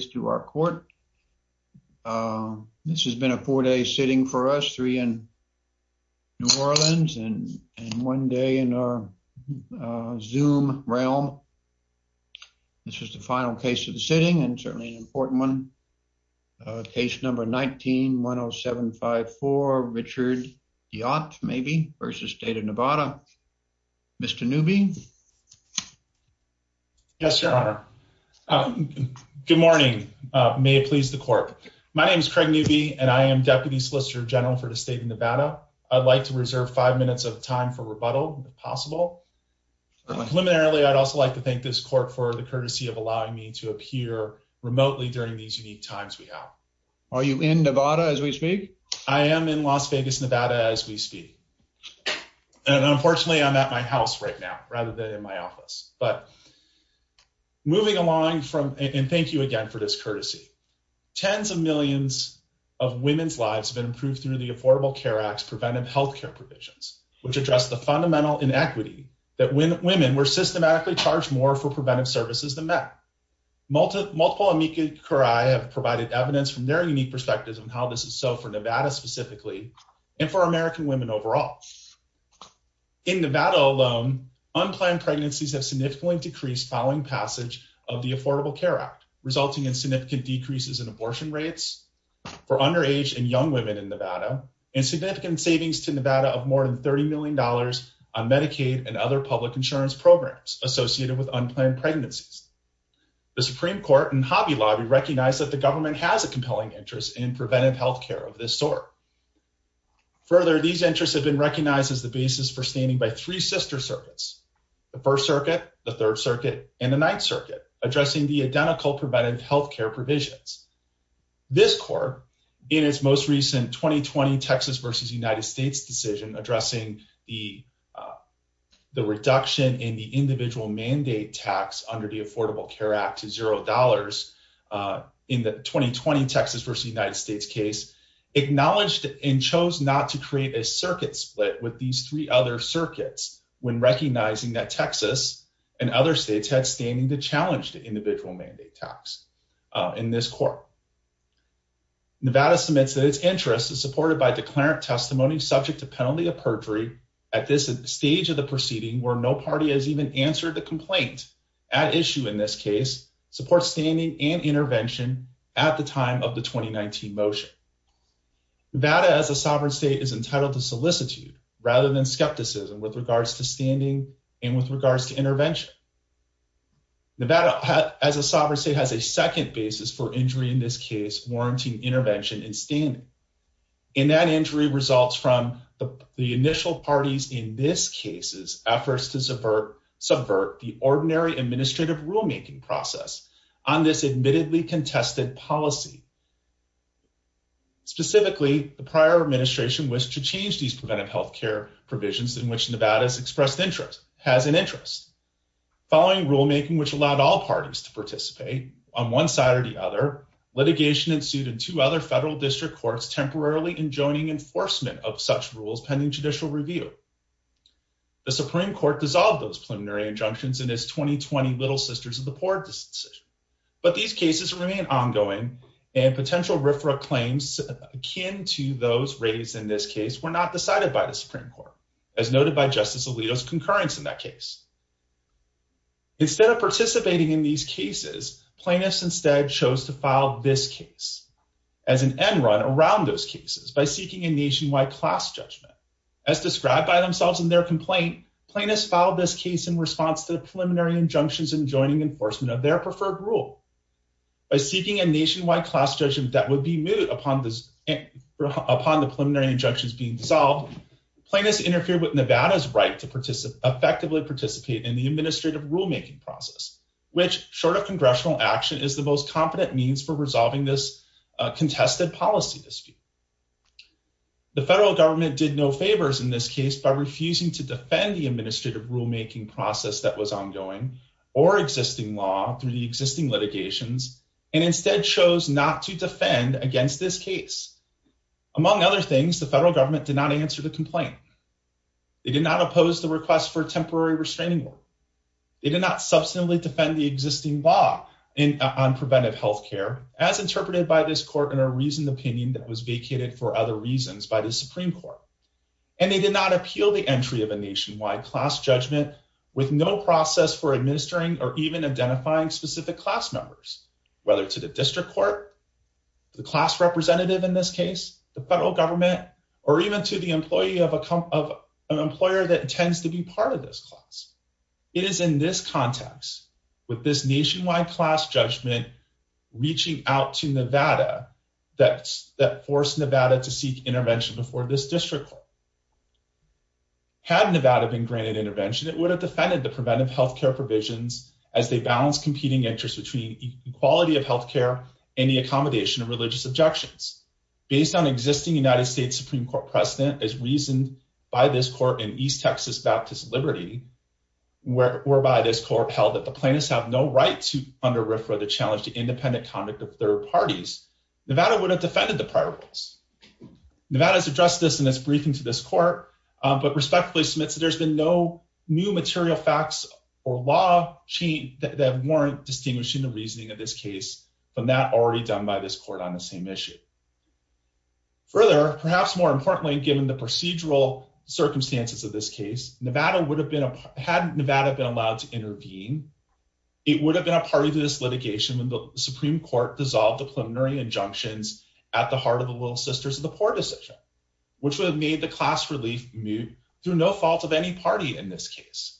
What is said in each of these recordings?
This has been a four-day sitting for us, three in New Orleans and one day in our Zoom realm. This is the final case of the sitting and certainly an important one. Case number 19-10754, Richard Deotte v. State of Nevada. Mr. Newby? Yes, Your Honor. Good morning. Good morning. May it please the Court. My name is Craig Newby and I am Deputy Solicitor General for the State of Nevada. I'd like to reserve five minutes of time for rebuttal, if possible. Preliminarily, I'd also like to thank this Court for the courtesy of allowing me to appear remotely during these unique times we have. Are you in Nevada as we speak? I am in Las Vegas, Nevada, as we speak, and unfortunately, I'm at my house right now rather than in my office. But moving along, and thank you again for this courtesy, tens of millions of women's lives have been improved through the Affordable Care Act's preventive health care provisions, which address the fundamental inequity that women were systematically charged more for preventive services than men. Multiple amici curiae have provided evidence from their unique perspectives on how this is so for Nevada specifically and for American women overall. In Nevada alone, unplanned pregnancies have significantly decreased following passage of the Affordable Care Act, resulting in significant decreases in abortion rates for underage and young women in Nevada and significant savings to Nevada of more than $30 million on Medicaid and other public insurance programs associated with unplanned pregnancies. The Supreme Court and Hobby Lobby recognize that the government has a compelling interest in preventive health care of this sort. Further, these interests have been recognized as the basis for standing by three sister circuits, the First Circuit, the Third Circuit, and the Ninth Circuit, addressing the identical preventive health care provisions. This court, in its most recent 2020 Texas v. United States decision addressing the reduction in the individual mandate tax under the Affordable Care Act to $0 in the 2020 Texas v. United States case, acknowledged and chose not to create a circuit split with these three other circuits when recognizing that Texas and other states had standing to challenge the individual mandate tax in this court. Nevada submits that its interest is supported by declarant testimony subject to penalty of perjury at this stage of the proceeding where no party has even answered the complaint at issue in this case supports standing and intervention at the time of the 2019 motion. Nevada as a sovereign state is entitled to solicitude rather than skepticism with regards to standing and with regards to intervention. Nevada as a sovereign state has a second basis for injury in this case warranting intervention and standing, and that injury results from the initial parties in this case's efforts subvert the ordinary administrative rulemaking process on this admittedly contested policy. Specifically, the prior administration was to change these preventive health care provisions in which Nevada's expressed interest has an interest. Following rulemaking which allowed all parties to participate on one side or the other, litigation ensued in two other federal district courts temporarily enjoining enforcement of such rules pending judicial review. The Supreme Court dissolved those preliminary injunctions in its 2020 Little Sisters of the Poor decision, but these cases remain ongoing and potential RFRA claims akin to those raised in this case were not decided by the Supreme Court as noted by Justice Alito's concurrence in that case. Instead of participating in these cases, plaintiffs instead chose to file this case as an end around those cases by seeking a nationwide class judgment. As described by themselves in their complaint, plaintiffs filed this case in response to the preliminary injunctions enjoining enforcement of their preferred rule. By seeking a nationwide class judgment that would be moot upon the preliminary injunctions being dissolved, plaintiffs interfered with Nevada's right to effectively participate in the administrative rulemaking process, which short of congressional action is the competent means for resolving this contested policy dispute. The federal government did no favors in this case by refusing to defend the administrative rulemaking process that was ongoing or existing law through the existing litigations and instead chose not to defend against this case. Among other things, the federal government did not answer the complaint. They did not oppose the request for a temporary restraining order. They did not substantively defend the existing law on preventive health care, as interpreted by this court in a reasoned opinion that was vacated for other reasons by the Supreme Court. And they did not appeal the entry of a nationwide class judgment with no process for administering or even identifying specific class members, whether to the district court, the class representative in this case, the federal government, or even to the employee of an employer that intends to be part of this class. It is in this context with this nationwide class judgment reaching out to Nevada that forced Nevada to seek intervention before this district court. Had Nevada been granted intervention, it would have defended the preventive health care provisions as they balance competing interests between equality of health care and the accommodation of religious objections. Based on existing United States Supreme Court precedent as reasoned by this court in East whereby this court held that the plaintiffs have no right to under-refer the challenge to independent conduct of third parties, Nevada would have defended the prior rules. Nevada has addressed this in its briefing to this court, but respectfully submits that there's been no new material facts or law change that warrant distinguishing the reasoning of this case from that already done by this court on the same issue. Further, perhaps more importantly, given the procedural circumstances of this case, Nevada would have been, had Nevada been allowed to intervene, it would have been a party to this litigation when the Supreme Court dissolved the preliminary injunctions at the heart of the Little Sisters of the Poor decision, which would have made the class relief moot through no fault of any party in this case.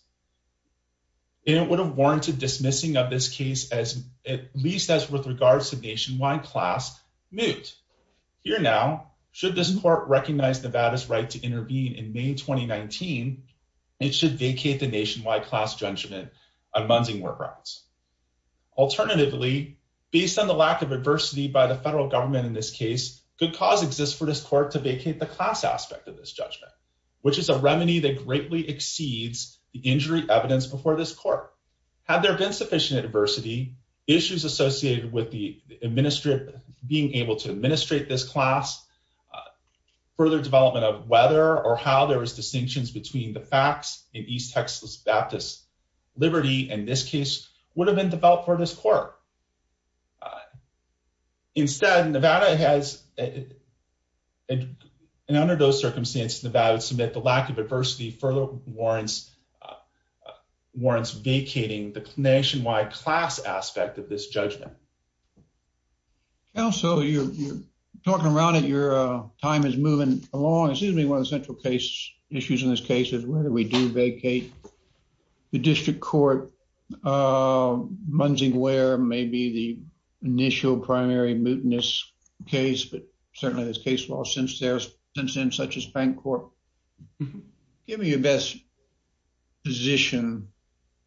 And it would have warranted dismissing of this case as, at least as with regards to nationwide class, moot. Here now, should this court recognize Nevada's right to intervene in May 2019, it should vacate the nationwide class judgment on munding work routes. Alternatively, based on the lack of adversity by the federal government in this case, good cause exists for this court to vacate the class aspect of this judgment, which is a remedy that greatly exceeds the injury evidence before this court. Had there been sufficient adversity, issues associated with the administrative, being able to administrate this class, further development of whether or how there was distinctions between the facts in East Texas Baptist Liberty in this case would have been developed for this court. Instead, Nevada has, and under those circumstances, Nevada would submit the lack of adversity further warrants vacating the nationwide class aspect of this judgment. Counsel, you're talking around it. Your time is moving along. It seems to me one of the central issues in this case is whether we do vacate the district court, mending where maybe the initial primary mootness case, but certainly this case law since then, such as Fancorp. Give me your best position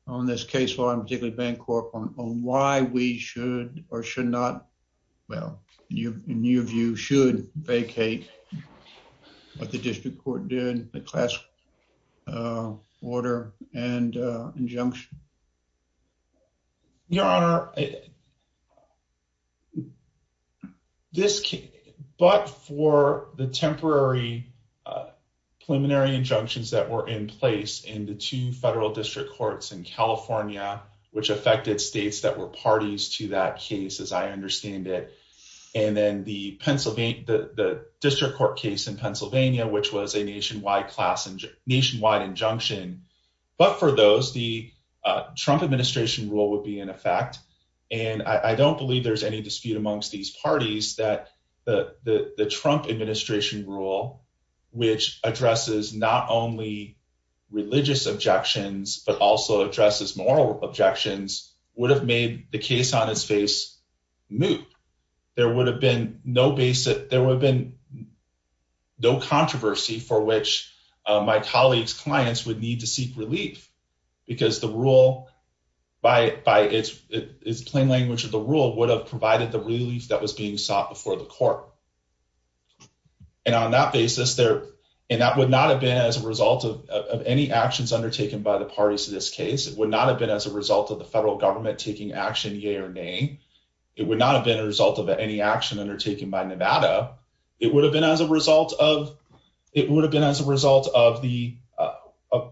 on this case law, and particularly Fancorp, on why we should or should not, well, in your view, should vacate what the district court did, the class order and injunction. Your Honor, this case, but for the temporary preliminary injunctions that were in place in the two federal district courts in California, which affected states that were parties to that case, as I understand it, and then the district court case in Pennsylvania, which was a nationwide injunction, but for those, the Trump administration rule would be in effect, and I don't believe there's any dispute amongst these parties that the Trump administration rule, which addresses not only religious objections, but also addresses moral objections, would have made the case on its face moot. There would have been no basic, there would have been no controversy for which my colleague's clients would need to seek relief, because the rule, by its plain language of the rule, would have provided the relief that was being sought before the court. And on that basis, and that would not have been as a result of any actions undertaken by the parties to this case, it would not have been as a result of the federal government taking action, yea or nay. It would not have been a result of any action undertaken by Nevada. It would have been as a result of, it would have been as a result of the, uh, uh,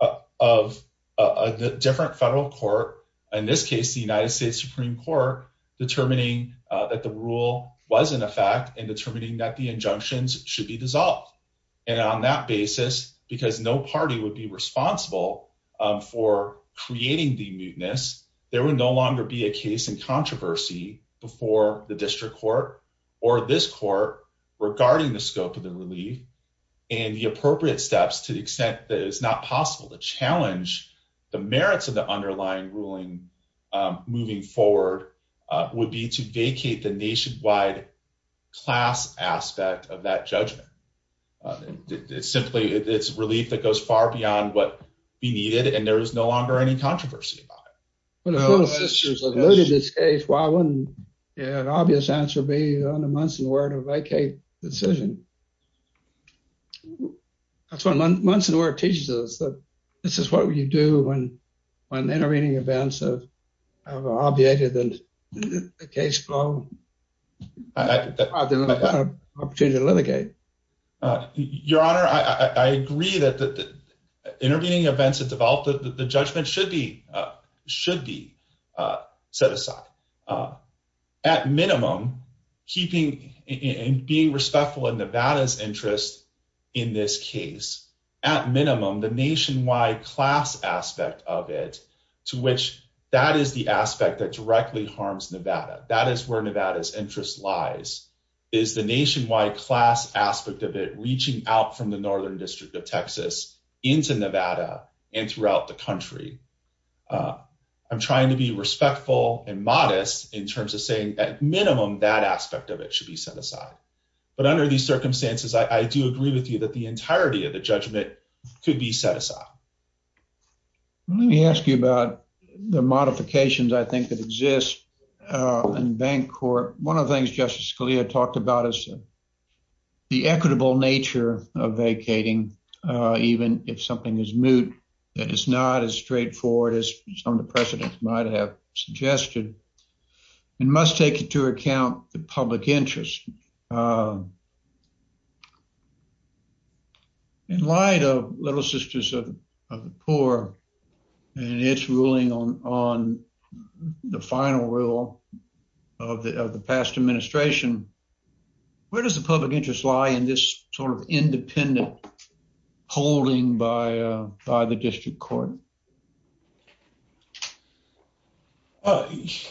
uh, of, uh, uh, the different federal court. In this case, the United States Supreme court determining that the rule was in effect and determining that the injunctions should be dissolved. And on that basis, because no party would be responsible for creating the mootness, there would no longer be a case in controversy before the district court or this court regarding the scope of the relief and the appropriate steps to the extent that it is not possible to challenge the merits of the underlying ruling, um, moving forward, uh, would be to vacate the nationwide class aspect of that judgment. Uh, it's simply, it's relief that goes far beyond what be needed. And there is no longer any controversy about it. When the full sisters alluded to this case, why wouldn't an obvious answer be on the months and word of vacate decision? That's what months and word teaches us that this is what you do when, when intervening events of, uh, obviated and the case flow opportunity to litigate. Uh, your honor, I agree that the intervening events that developed the judgment should be, uh, should be, uh, set aside, uh, at minimum keeping and being respectful in Nevada's interest in this case, at minimum, the nationwide class aspect of it to which that is the aspect that directly harms Nevada. That is where Nevada's interest lies is the nationwide class aspect of it reaching out from the northern district of Texas into Nevada and throughout the country. Uh, I'm trying to be respectful and modest in terms of saying at minimum that aspect of it should be set aside. But under these circumstances, I do agree with you that the entirety of the judgment could be set aside. Let me ask you about the modifications I think that exist, uh, in bank court. One of the things Justice Scalia talked about is the equitable nature of vacating, uh, even if something is moot, that it's not as straightforward as some of the precedents might have suggested and must take into account the public interest. Uh, in light of Little Sisters of the Poor and its ruling on, on the final rule of the past administration, where does the public interest lie in this sort of independent holding by, uh, by the district court? Uh,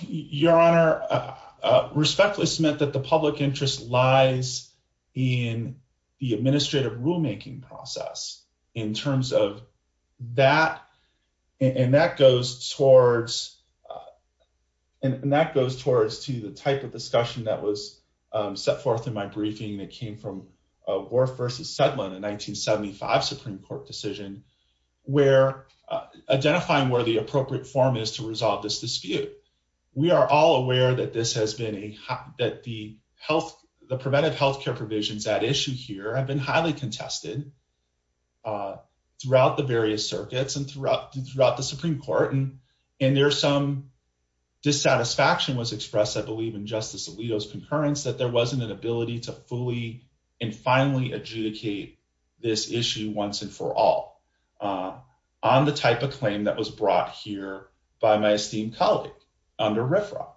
Your Honor, uh, respectfully submit that the public interest lies in the administrative rulemaking process in terms of that. And that goes towards, uh, and that goes towards to the type of discussion that was, um, set forth in my briefing that came from, uh, Worf versus Sedlin in 1975 Supreme Court decision, where, uh, identifying where the appropriate form is to resolve this dispute. We are all aware that this has been a, that the health, the preventive healthcare provisions at issue here have been highly contested, uh, throughout the various circuits and throughout the, throughout the Supreme Court. And, and there's some dissatisfaction was expressed, I believe in Justice Alito's concurrence that there wasn't an ability to fully and finally adjudicate this issue once and for all, uh, on the type of claim that was brought here by my esteemed colleague under riffraff,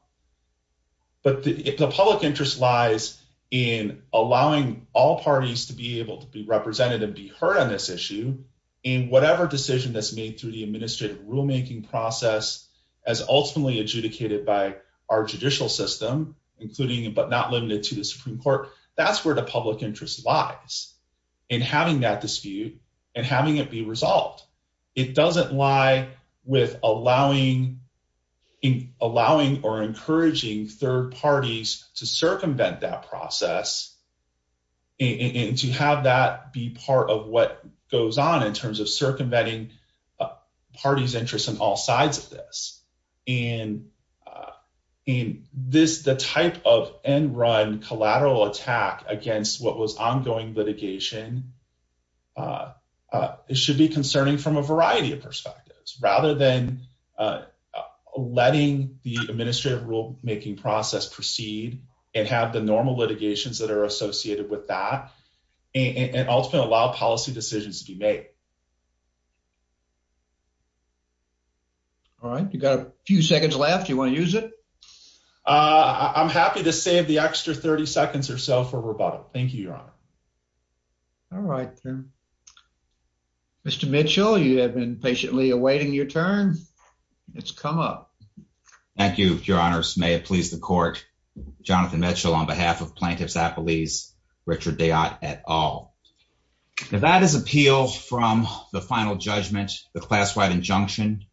but the public interest lies in allowing all parties to be able to be represented and be heard on this issue in whatever decision that's made through the administrative rulemaking process as ultimately adjudicated by our judicial system, including, but not limited to the Supreme Court. That's where the public interest lies in having that dispute and having it be resolved. It doesn't lie with allowing, allowing, or encouraging third parties to circumvent that process and to have that be part of what goes on in terms of circumventing party's interest in all sides of this. And, uh, in this, the type of end run collateral attack against what was ongoing litigation, uh, uh, it should be concerning from a variety of perspectives rather than, uh, uh, letting the administrative rule making process proceed and have the normal litigations that are associated with that and ultimately allow policy decisions to be made. All right, you got a few seconds left. You want to use it? I'm happy to save the extra 30 seconds or so for rebuttal. Thank you, Your Honor. All right, then, Mr Mitchell, you have been patiently awaiting your turn. It's come up. Thank you, Your Honors. May it please the court. Jonathan Mitchell on behalf of plaintiffs at police Richard Day at all. If that is appeal from the final judgment, the class wide injunction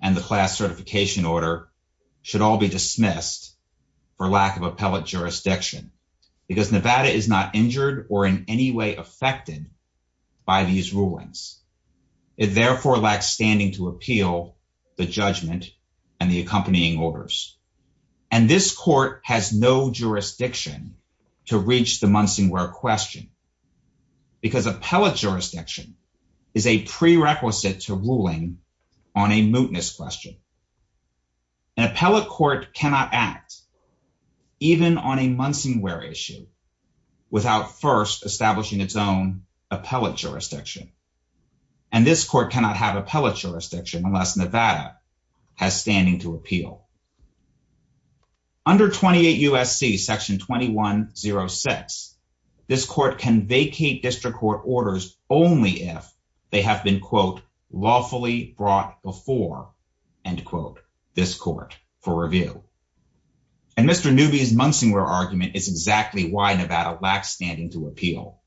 and the class certification order should all be dismissed for lack of appellate jurisdiction because Nevada is not injured or in any way affected by these rulings. It therefore lacks standing to appeal the judgment and the accompanying orders. And this court has no jurisdiction to reach the Munsingwear question because appellate jurisdiction is a prerequisite to ruling on a mootness question. An appellate court cannot act even on a Munsingwear issue without first establishing its own appellate jurisdiction. And this court cannot have appellate jurisdiction unless Nevada has standing to appeal. Under 28 U.S.C. Section 2106, this court can vacate district court orders only if they have been, quote, lawfully brought before, end quote, this court for review. And Mr Newby's Munsingwear argument is exactly why Nevada lacks standing to appeal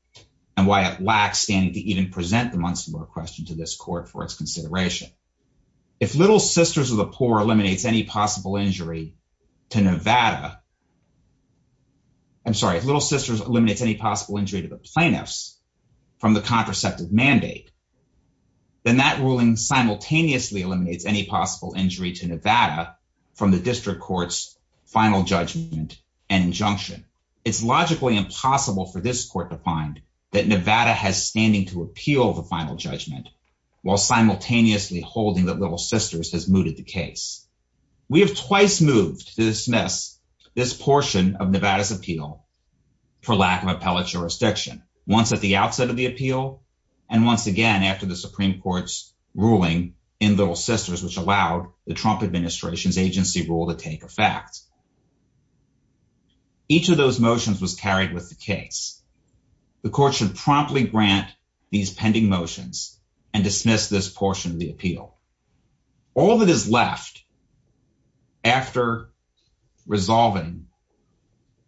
and why it lacks standing to even present the Munsingwear question to this court for its consideration. If Little Sisters of the Poor eliminates any possible injury to Nevada, I'm sorry, if Little Sisters eliminates any possible injury to the plaintiffs from the contraceptive mandate, then that ruling simultaneously eliminates any possible injury to Nevada from the district court's final judgment and injunction. It's logically impossible for this court to find that Nevada has standing to appeal the holding that Little Sisters has mooted the case. We have twice moved to dismiss this portion of Nevada's appeal for lack of appellate jurisdiction, once at the outset of the appeal and once again after the Supreme Court's ruling in Little Sisters, which allowed the Trump administration's agency rule to take effect. Each of those motions was carried with the case. The court should promptly grant these pending motions and dismiss this portion of the appeal. All that is left after resolving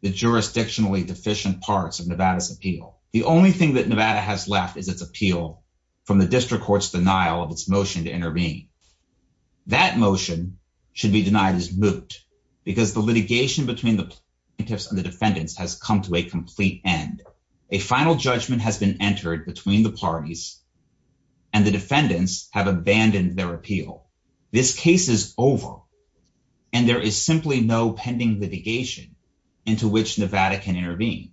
the jurisdictionally deficient parts of Nevada's appeal, the only thing that Nevada has left is its appeal from the district court's denial of its motion to intervene. That motion should be denied as moot because the litigation between the plaintiffs and a final judgment has been entered between the parties and the defendants have abandoned their appeal. This case is over, and there is simply no pending litigation into which Nevada can intervene.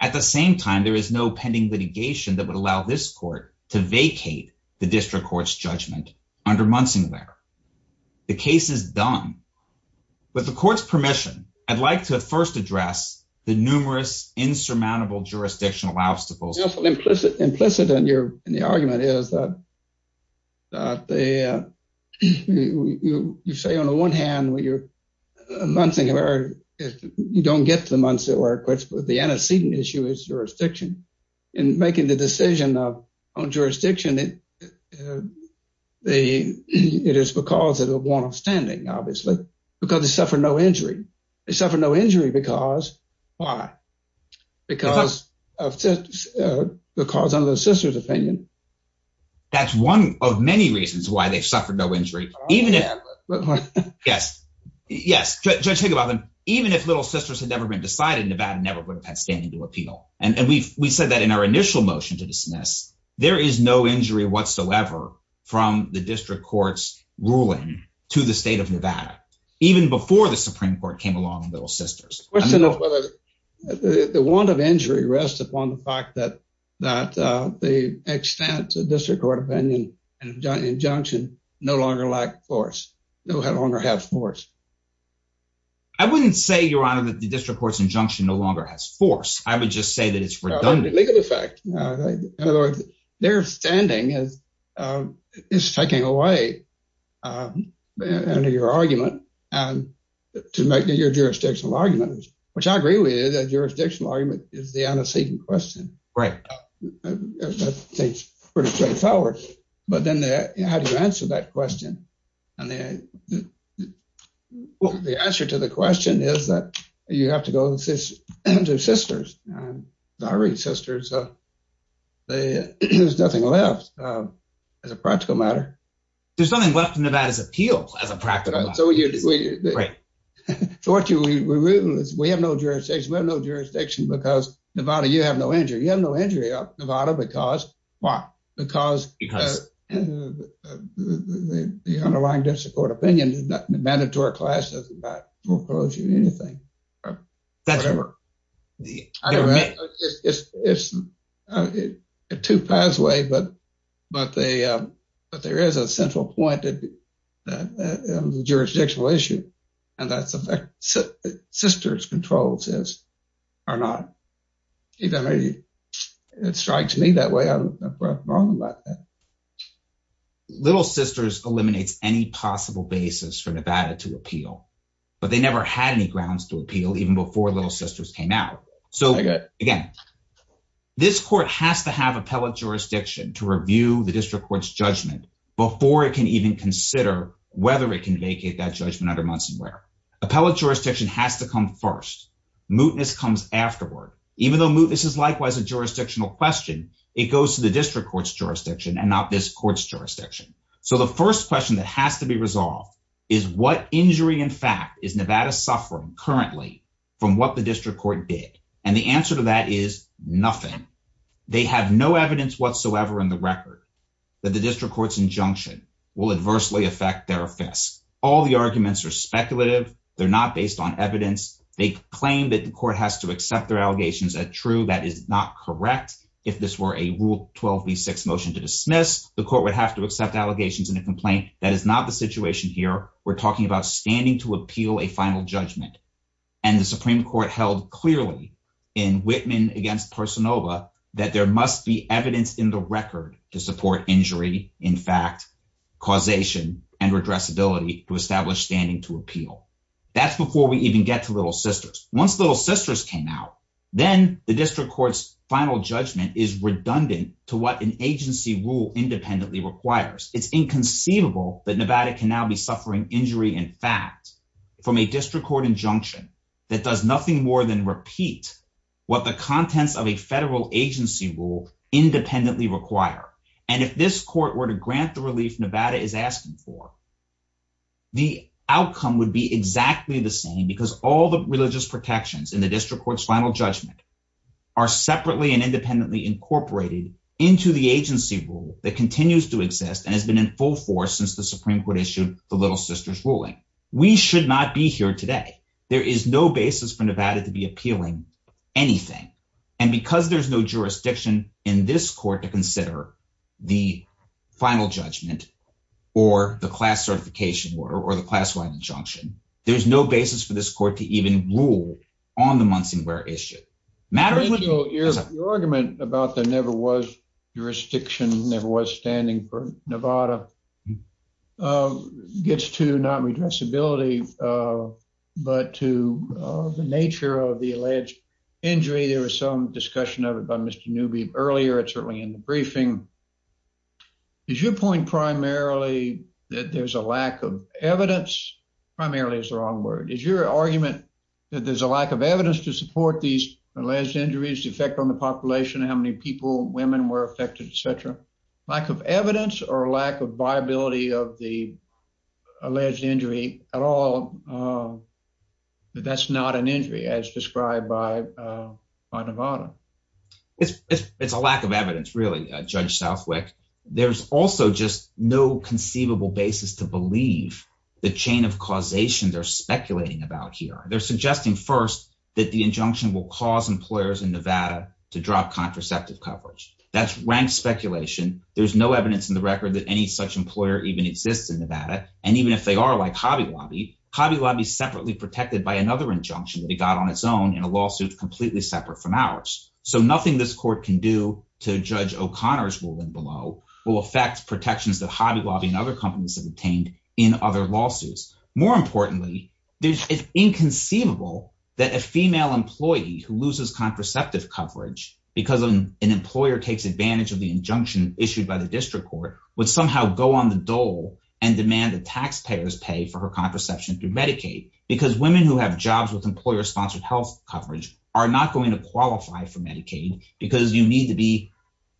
At the same time, there is no pending litigation that would allow this court to vacate the district court's judgment under Munsinglar. The case is done. With the court's permission, I'd like to first address the numerous insurmountable jurisdictional obstacles. Implicit in the argument is that you say, on the one hand, you don't get to Munsinglar, but the antecedent issue is jurisdiction. In making the decision on jurisdiction, it is because of the warrant of standing, because they suffered no injury. They suffered no injury because of Little Sisters' opinion. That's one of many reasons why they suffered no injury. Judge Higginbotham, even if Little Sisters had never been decided, Nevada never would have had standing to appeal. We said that in our initial motion to dismiss, there is no injury whatsoever from the district ruling to the state of Nevada, even before the Supreme Court came along on Little Sisters. The question of whether the warrant of injury rests upon the fact that the extent of district court opinion and injunction no longer lack force, no longer have force. I wouldn't say, Your Honor, that the district court's injunction no longer has force. I would just say that it's redundant. In other words, their standing is taken away under your argument to make your jurisdictional argument, which I agree with. A jurisdictional argument is the antecedent question. Right. That seems pretty straightforward, but then how do you answer that question? The answer to the question is that you have to go to Sisters. Sorry, Sisters. There's nothing left as a practical matter. There's nothing left in Nevada's appeal as a practical matter. Right. We have no jurisdiction. We have no jurisdiction because Nevada, you have no injury. You have no injury, Nevada, because why? Because the underlying district court opinion, the mandatory class doesn't buy foreclosure or anything. That's right. I don't know. It's a two-path way, but there is a central point in the jurisdictional issue, and that's the fact that Sisters controls this or not. Even if it strikes me that way, I'm wrong about that. Little Sisters eliminates any possible basis for Nevada to appeal, but they never had any grounds to appeal even before Little Sisters came out. So again, this court has to have appellate jurisdiction to review the district court's judgment before it can even consider whether it can vacate that judgment under Munsonware. Appellate jurisdiction has to come first. Mootness comes afterward. Even though mootness is likewise a jurisdictional question, it goes to the district court's jurisdiction and not this court's jurisdiction. So the first question that has to be resolved is what injury, in fact, is Nevada suffering currently from what the district court did? And the answer to that is nothing. They have no evidence whatsoever in the record that the district court's injunction will adversely affect their offense. All the arguments are speculative. They're not based on evidence. They claim that the court has to accept their allegations as true. That is not correct. If this were a Rule 12b6 motion to dismiss, the court would have to accept allegations in a complaint. That is not the situation here. We're talking about standing to appeal a final judgment. And the Supreme Court held clearly in Whitman against Parsonova that there must be evidence in the record to support injury, in fact, causation, and redressability to establish standing to appeal. That's before we even get to Little Sisters. Once Little Sisters came out, then the district court's final judgment is redundant to what an agency rule independently requires. It's inconceivable that Nevada can now be suffering injury, in fact, from a district court injunction that does nothing more than repeat what the contents of a federal agency rule independently require. And if this court were to grant the relief Nevada is asking for, the outcome would be exactly the same because all the religious protections in the district court's final judgment are separately and independently incorporated into the agency rule that continues to exist and has been in full force since the Supreme Court issued the Little Sisters ruling. We should not be here today. There is no basis for Nevada to be appealing anything. And because there's no jurisdiction in this court to consider the final judgment or the class-wide injunction, there's no basis for this court to even rule on the Munson-Guerre issue. The argument about there never was jurisdiction, never was standing for Nevada, gets to not redressability, but to the nature of the alleged injury. There was some discussion of it by Mr. Newby earlier, certainly in the briefing. Is your point primarily that there's a lack of evidence? Primarily is the wrong word. Is your argument that there's a lack of evidence to support these alleged injuries, the effect on the population, how many people, women were affected, et cetera? Lack of evidence or lack of viability of the alleged injury at all, that that's not an injury as described by Nevada? It's a lack of evidence, really, Judge Southwick. There's also just no conceivable basis to believe the chain of causation they're speculating about here. They're suggesting, first, that the injunction will cause employers in Nevada to drop contraceptive coverage. That's rank speculation. There's no evidence in the record that any such employer even exists in Nevada. And even if they are, like Hobby Lobby, Hobby Lobby's separately protected by another injunction that it got on its own in a lawsuit completely separate from ours. So nothing this court can do to Judge O'Connor's ruling below will affect protections that Hobby Lobby and other companies have obtained in other lawsuits. More importantly, it's inconceivable that a female employee who loses contraceptive coverage because an employer takes advantage of the injunction issued by the district court would somehow go on the dole and demand that taxpayers pay for her contraception through coverage are not going to qualify for Medicaid because you need to be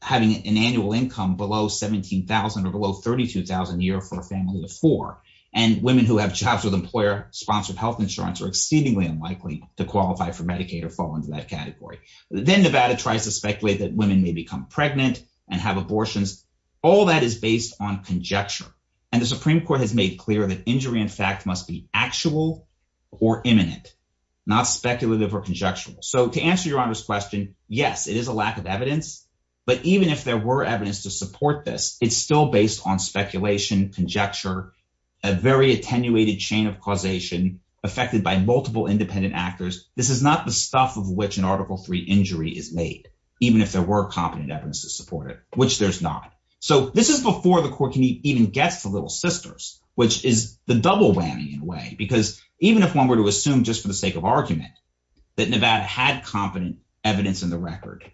having an annual income below $17,000 or below $32,000 a year for a family of four. And women who have jobs with employer-sponsored health insurance are exceedingly unlikely to qualify for Medicaid or fall into that category. Then Nevada tries to speculate that women may become pregnant and have abortions. All that is based on conjecture. And the Supreme Court has made clear that injury, in fact, must be actual or imminent. Not speculative or conjectural. So to answer Your Honor's question, yes, it is a lack of evidence. But even if there were evidence to support this, it's still based on speculation, conjecture, a very attenuated chain of causation affected by multiple independent actors. This is not the stuff of which an Article III injury is made, even if there were competent evidence to support it, which there's not. So this is before the court can even get to Little Sisters, which is the double whammy in a way. Even if one were to assume, just for the sake of argument, that Nevada had competent evidence in the record,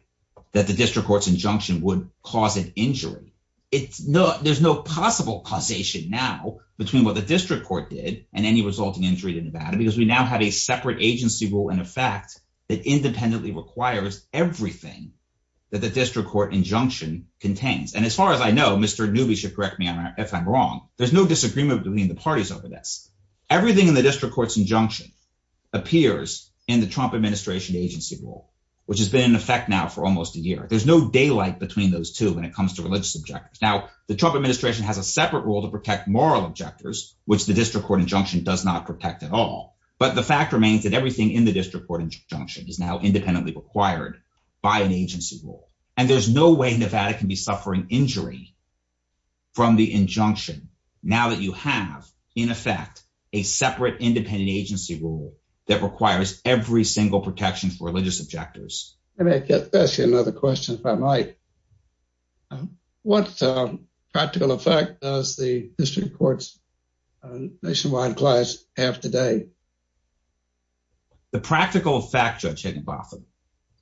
that the district court's injunction would cause an injury, there's no possible causation now between what the district court did and any resulting injury to Nevada, because we now have a separate agency rule in effect that independently requires everything that the district court injunction contains. And as far as I know, Mr. Newby should correct me if I'm wrong, there's no disagreement between the parties over this. Everything in the district court's injunction appears in the Trump administration agency rule, which has been in effect now for almost a year. There's no daylight between those two when it comes to religious objectors. Now, the Trump administration has a separate rule to protect moral objectors, which the district court injunction does not protect at all. But the fact remains that everything in the district court injunction is now independently required by an agency rule. And there's no way Nevada can be suffering injury from the injunction now that you have, in effect, a separate independent agency rule that requires every single protection for religious objectors. Let me ask you another question if I might. What practical effect does the district court's nationwide class have today? The practical effect, Judge Higginbotham,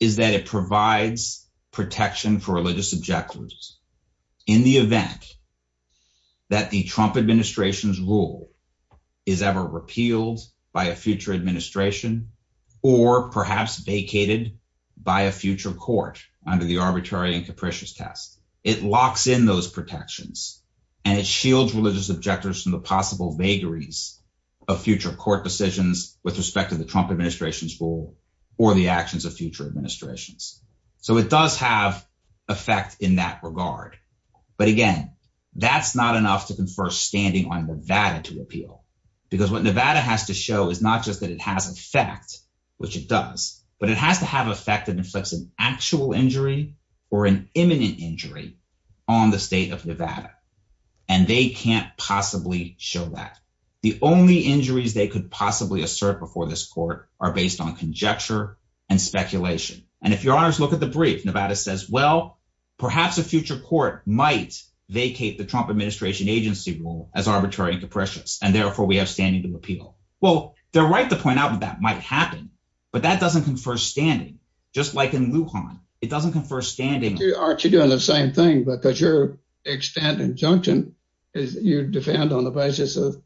is that it provides protection for religious objectors in the event that the Trump administration's rule is ever repealed by a future administration or perhaps vacated by a future court under the arbitrary and capricious test. It locks in those protections and it shields religious objectors from the possible vagaries of future court decisions with respect to the Trump administration's rule or the actions of future administrations. So it does have effect in that regard. But again, that's not enough to confer standing on Nevada to appeal. Because what Nevada has to show is not just that it has effect, which it does, but it has to have effect that inflicts an actual injury or an imminent injury on the state of Nevada. And they can't possibly show that. The only injuries they could possibly assert before this court are based on conjecture and speculation. And if your honors look at the brief, Nevada says, well, perhaps a future court might vacate the Trump administration agency rule as arbitrary and capricious, and therefore we have standing to appeal. Well, they're right to point out that that might happen. But that doesn't confer standing. Just like in Lujan, it doesn't confer standing. Aren't you doing the same thing? Because your extent injunction is you defend on the basis of,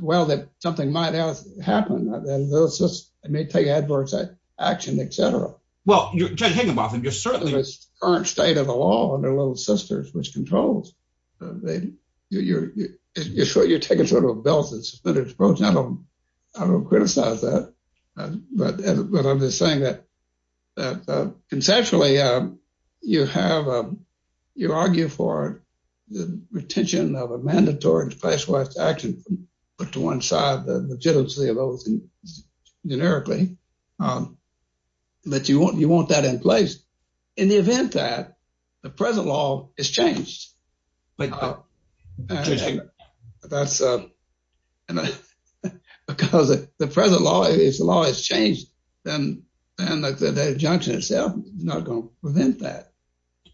well, that something might have happened. It may take adverse action, et cetera. Well, Judge Higginbotham, you're certainly- It's the current state of the law under Little Sisters, which controls. You're taking sort of a belted, suspended approach. I don't criticize that. But I'm just saying that conceptually, you argue for the retention of a mandatory and specialized action, but to one side, the legitimacy of those, generically, that you want that in place in the event that the present law is changed. Because if the present law is changed, then the injunction itself is not going to prevent that.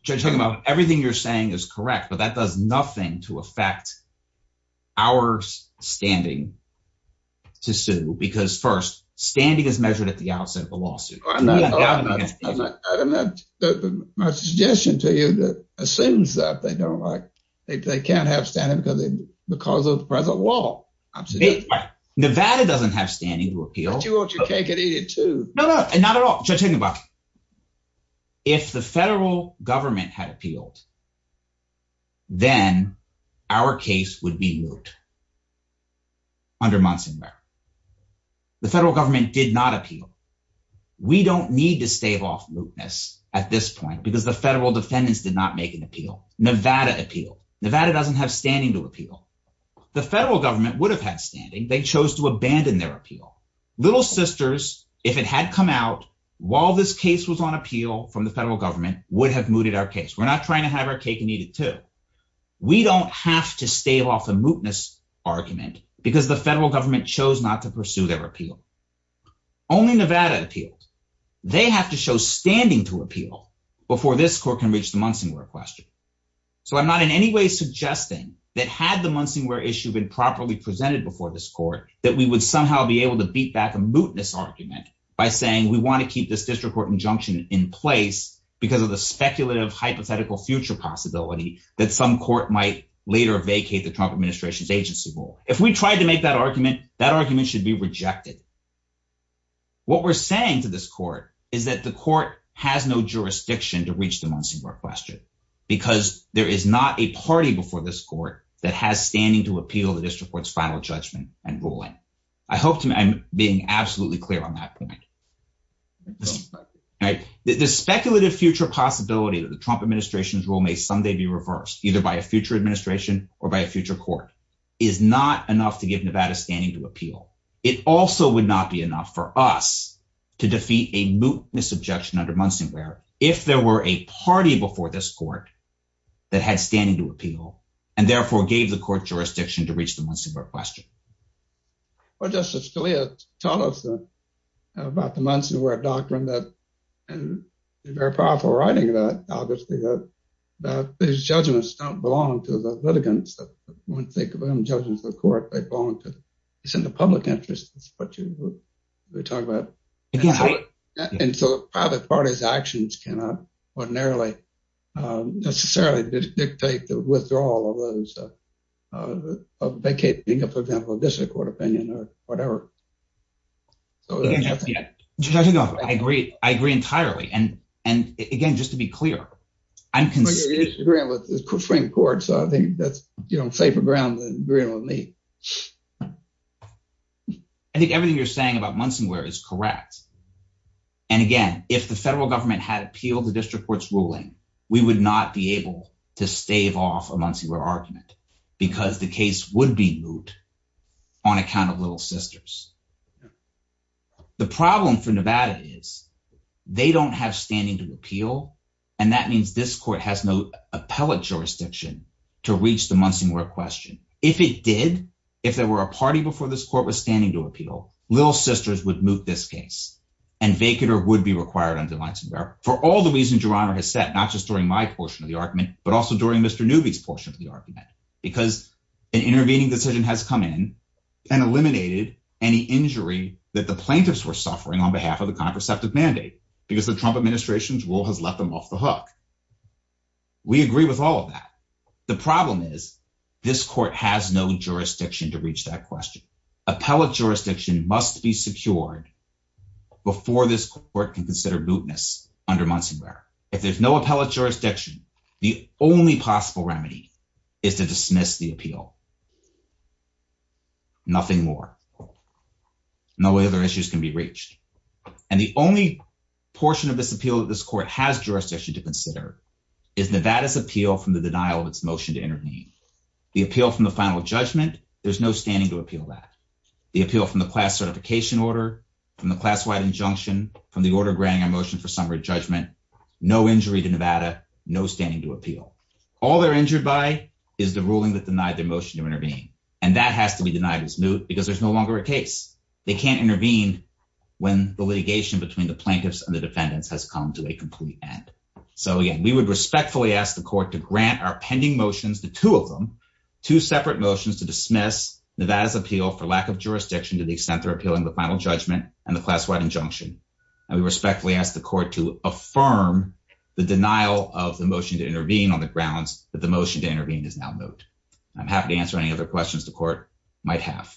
Judge Higginbotham, everything you're saying is correct, but that does nothing to affect our standing to sue. Because first, standing is measured at the outset of a lawsuit. My suggestion to you assumes that they can't have standing because of the present law. Nevada doesn't have standing to appeal. But you want your cake and eat it, too. No, no, not at all. Judge Higginbotham, if the federal government had appealed, then our case would be moot under Monson Law. The federal government did not appeal. We don't need to stave off mootness at this point because the federal defendants did not make an appeal. Nevada appealed. Nevada doesn't have standing to appeal. The federal government would have had standing. They chose to abandon their appeal. Little Sisters, if it had come out while this case was on appeal from the federal government, would have mooted our case. We're not trying to have our cake and eat it, too. We don't have to stave off a mootness argument because the federal government chose not to pursue their appeal. Only Nevada appealed. They have to show standing to appeal before this court can reach the Monson Law question. So I'm not in any way suggesting that had the Monson Law issue been properly presented before this court, that we would somehow be able to beat back a mootness argument by saying we want to keep this district court injunction in place because of the speculative, hypothetical future possibility that some court might later vacate the Trump administration's agency role. If we tried to make that argument, that argument should be rejected. What we're saying to this court is that the court has no jurisdiction to reach the Monson Law question because there is not a party before this court that has standing to appeal the district court's final judgment and ruling. I hope I'm being absolutely clear on that point. The speculative future possibility that the Trump administration's role may someday be reversed, either by a future administration or by a future court, is not enough to give Nevada standing to appeal. It also would not be enough for us to defeat a mootness objection under Monson where if there were a party before this court that had standing to appeal and therefore gave the court jurisdiction to reach the Monson Law question. Well, Justice Scalia, tell us about the Monson Law doctrine and the very powerful writing of that, obviously, that these judgments don't belong to the litigants. When you think of them judging the court, they belong to the public interest. That's what you were talking about. And so private parties' actions cannot ordinarily necessarily dictate the withdrawal of those vacating, for example, a district court opinion or whatever. I agree. I agree entirely. And and again, just to be clear, I agree with the Supreme Court. So I think that's safer ground than agreeing with me. I think everything you're saying about Monson where is correct. And again, if the federal government had appealed the district court's ruling, we would not be able to stave off a Monson argument because the case would be moot on account of little sisters. The problem for Nevada is they don't have standing to appeal. And that means this court has no appellate jurisdiction to reach the Monson question. If it did, if there were a party before this court was standing to appeal, little sisters would moot this case and vacate or would be required under Monson for all the reasons your honor has said, not just during my portion of the argument, but also during Mr. Newby's portion of the argument, because an intervening decision has come in and eliminated any injury that the plaintiffs were suffering on behalf of the contraceptive mandate because the Trump administration's rule has left them off the hook. We agree with all of that. The problem is this court has no jurisdiction to reach that question. Appellate jurisdiction must be secured before this court can consider mootness under Monson if there's no appellate jurisdiction. The only possible remedy is to dismiss the appeal. Nothing more, no other issues can be reached. And the only portion of this appeal that this court has jurisdiction to consider is Nevada's appeal from the denial of its motion to intervene the appeal from the final judgment. There's no standing to appeal that the appeal from the class certification order from the injunction from the order granting a motion for summary judgment, no injury to Nevada, no standing to appeal. All they're injured by is the ruling that denied their motion to intervene. And that has to be denied as moot because there's no longer a case. They can't intervene when the litigation between the plaintiffs and the defendants has come to a complete end. So again, we would respectfully ask the court to grant our pending motions, the two of them, two separate motions to dismiss Nevada's appeal for lack of jurisdiction to the extent repealing the final judgment and the class-wide injunction. And we respectfully ask the court to affirm the denial of the motion to intervene on the grounds that the motion to intervene is now moot. I'm happy to answer any other questions the court might have.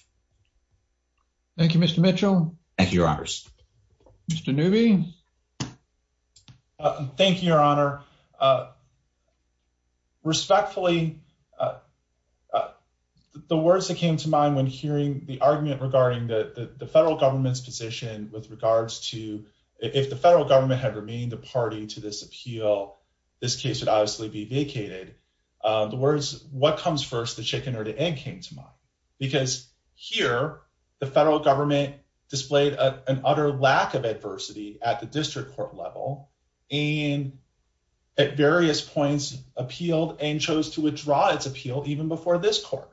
Thank you, Mr. Mitchell. Thank you, your honors. Mr. Newby. Thank you, your honor. Respectfully, the words that came to mind when hearing the argument regarding the federal government's position with regards to, if the federal government had remained the party to this appeal, this case would obviously be vacated. The words, what comes first, the chicken or the egg came to mind. Because here, the federal government displayed an utter lack of adversity at the district court level and at various points appealed and chose to withdraw its appeal even before this court.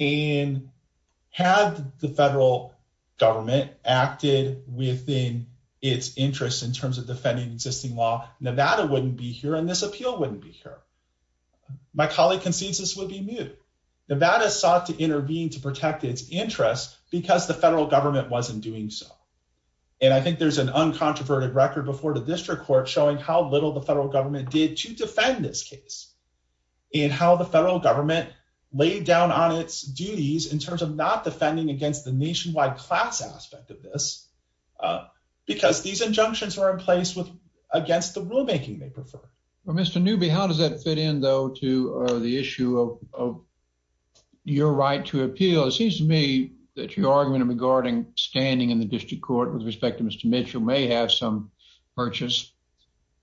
And had the federal government acted within its interests in terms of defending existing law, Nevada wouldn't be here and this appeal wouldn't be here. My colleague concedes this would be moot. Nevada sought to intervene to protect its interests because the federal government wasn't doing so. And I think there's an uncontroverted record before the district court showing how little the federal government did to defend this case. And how the federal government laid down on its duties in terms of not defending against the nationwide class aspect of this. Because these injunctions are in place against the rulemaking they prefer. Well, Mr. Newby, how does that fit in, though, to the issue of your right to appeal? It seems to me that your argument regarding standing in the district court with respect to Mr. Mitchell may have some purchase.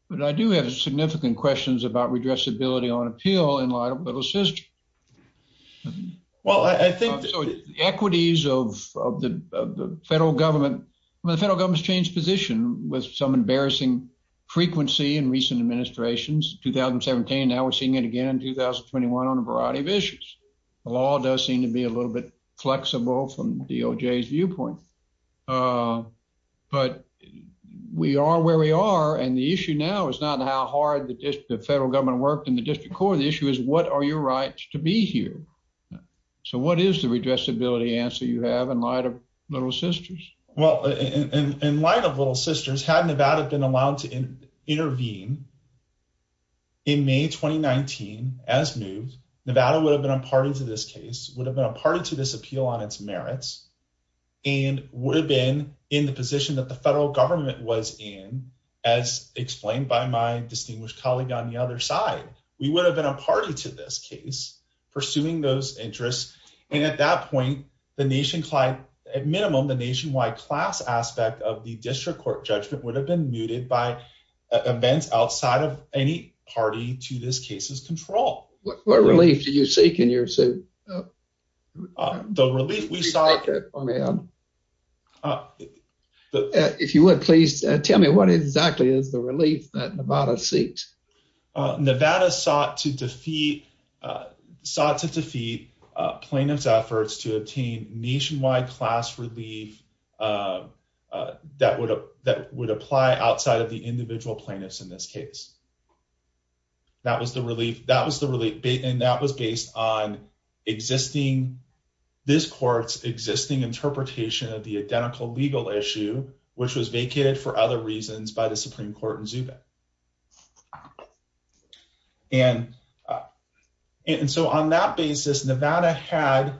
But I do have significant questions about redressability on appeal in light of Little's history. Well, I think the equities of the federal government, the federal government's changed position with some embarrassing frequency in recent administrations. 2017, now we're seeing it again in 2021 on a variety of issues. The law does seem to be a little bit flexible from DOJ's viewpoint. But we are where we are. And the issue now is not how hard the federal government worked in the district court. The issue is what are your rights to be here? So what is the redressability answer you have in light of Little Sisters? Well, in light of Little Sisters, had Nevada been allowed to intervene in May 2019 as new, Nevada would have been a party to this case, would have been a party to this appeal on its merits. And would have been in the position that the federal government was in, as explained by my distinguished colleague on the other side. We would have been a party to this case pursuing those interests. And at that point, the nationwide, at minimum, the nationwide class aspect of the district court judgment would have been muted by events outside of any party to this case's control. What relief do you seek in your suit? The relief we sought... If you would, please tell me what exactly is the relief that Nevada seeks? Nevada sought to defeat plaintiff's efforts to obtain nationwide class relief that would apply outside of the individual plaintiffs in this case. That was the relief, that was the relief, and that was based on existing, this court's existing interpretation of the identical legal issue, which was vacated for other reasons by the Supreme Court in Zuba. And so on that basis, Nevada had,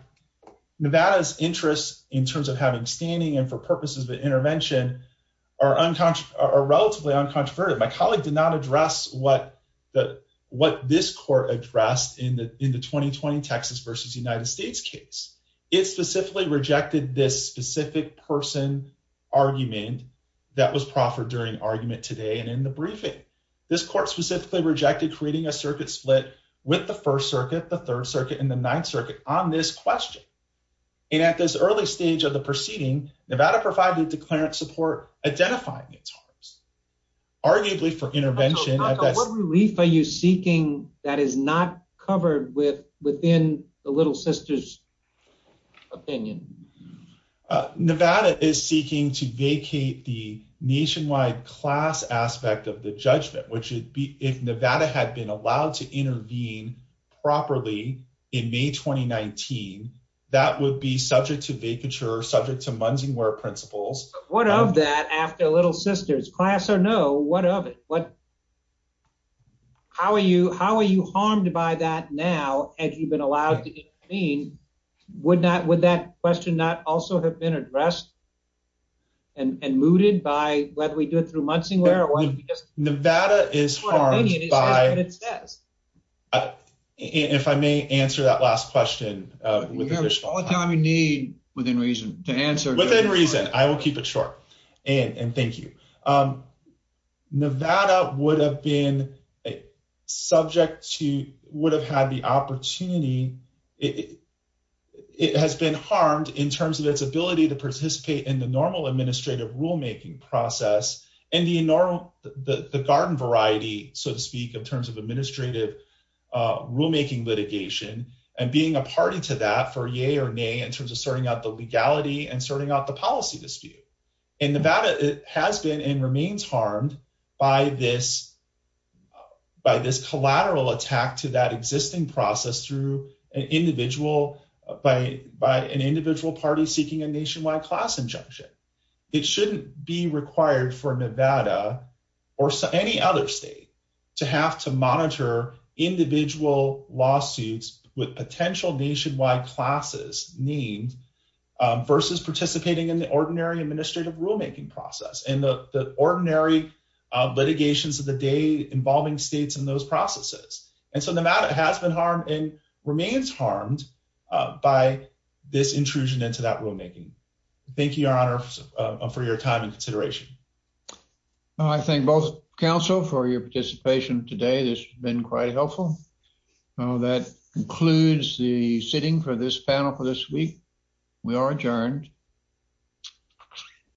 Nevada's interests in terms of having standing and for purposes of intervention are relatively uncontroverted. My colleague did not address what this court addressed in the 2020 Texas versus United States case. It specifically rejected this specific person argument that was proffered during argument today and in the briefing. This court specifically rejected creating a circuit split with the First Circuit, the Third Circuit, and the Ninth Circuit on this question. And at this early stage of the proceeding, Nevada provided declarant support identifying its harms. Arguably for intervention. So what relief are you seeking that is not covered within the Little Sisters' opinion? Nevada is seeking to vacate the nationwide class aspect of the judgment, which would be if Nevada had been allowed to intervene properly in May 2019, that would be subject to vacature, subject to Munsingware principles. What of that after Little Sisters? Class or no, what of it? What, how are you, how are you harmed by that now as you've been allowed to intervene? Would not, would that question not also have been addressed and mooted by whether we do it through Munsingware or what? Nevada is harmed by, if I may answer that last question. We have all the time we need within reason to answer. Within reason, I will keep it short. And thank you. Nevada would have been subject to, would have had the opportunity, it has been harmed in terms of its ability to participate in the normal administrative rulemaking process and the normal, the garden variety, so to speak, in terms of administrative rulemaking litigation and being a party to that for yay or nay in terms of sorting out the legality and sorting out the policy dispute. In Nevada, it has been and remains harmed by this, by this collateral attack to that existing process through an individual, by an individual party seeking a nationwide class injunction. It shouldn't be required for Nevada or any other state to have to monitor individual lawsuits with potential nationwide classes named versus participating in the ordinary administrative rulemaking process and the ordinary litigations of the day involving states in those processes. And so Nevada has been harmed and remains harmed by this intrusion into that rulemaking. Thank you, Your Honor, for your time and consideration. I thank both counsel for your participation today. This has been quite helpful. That concludes the sitting for this panel for this week. We are adjourned.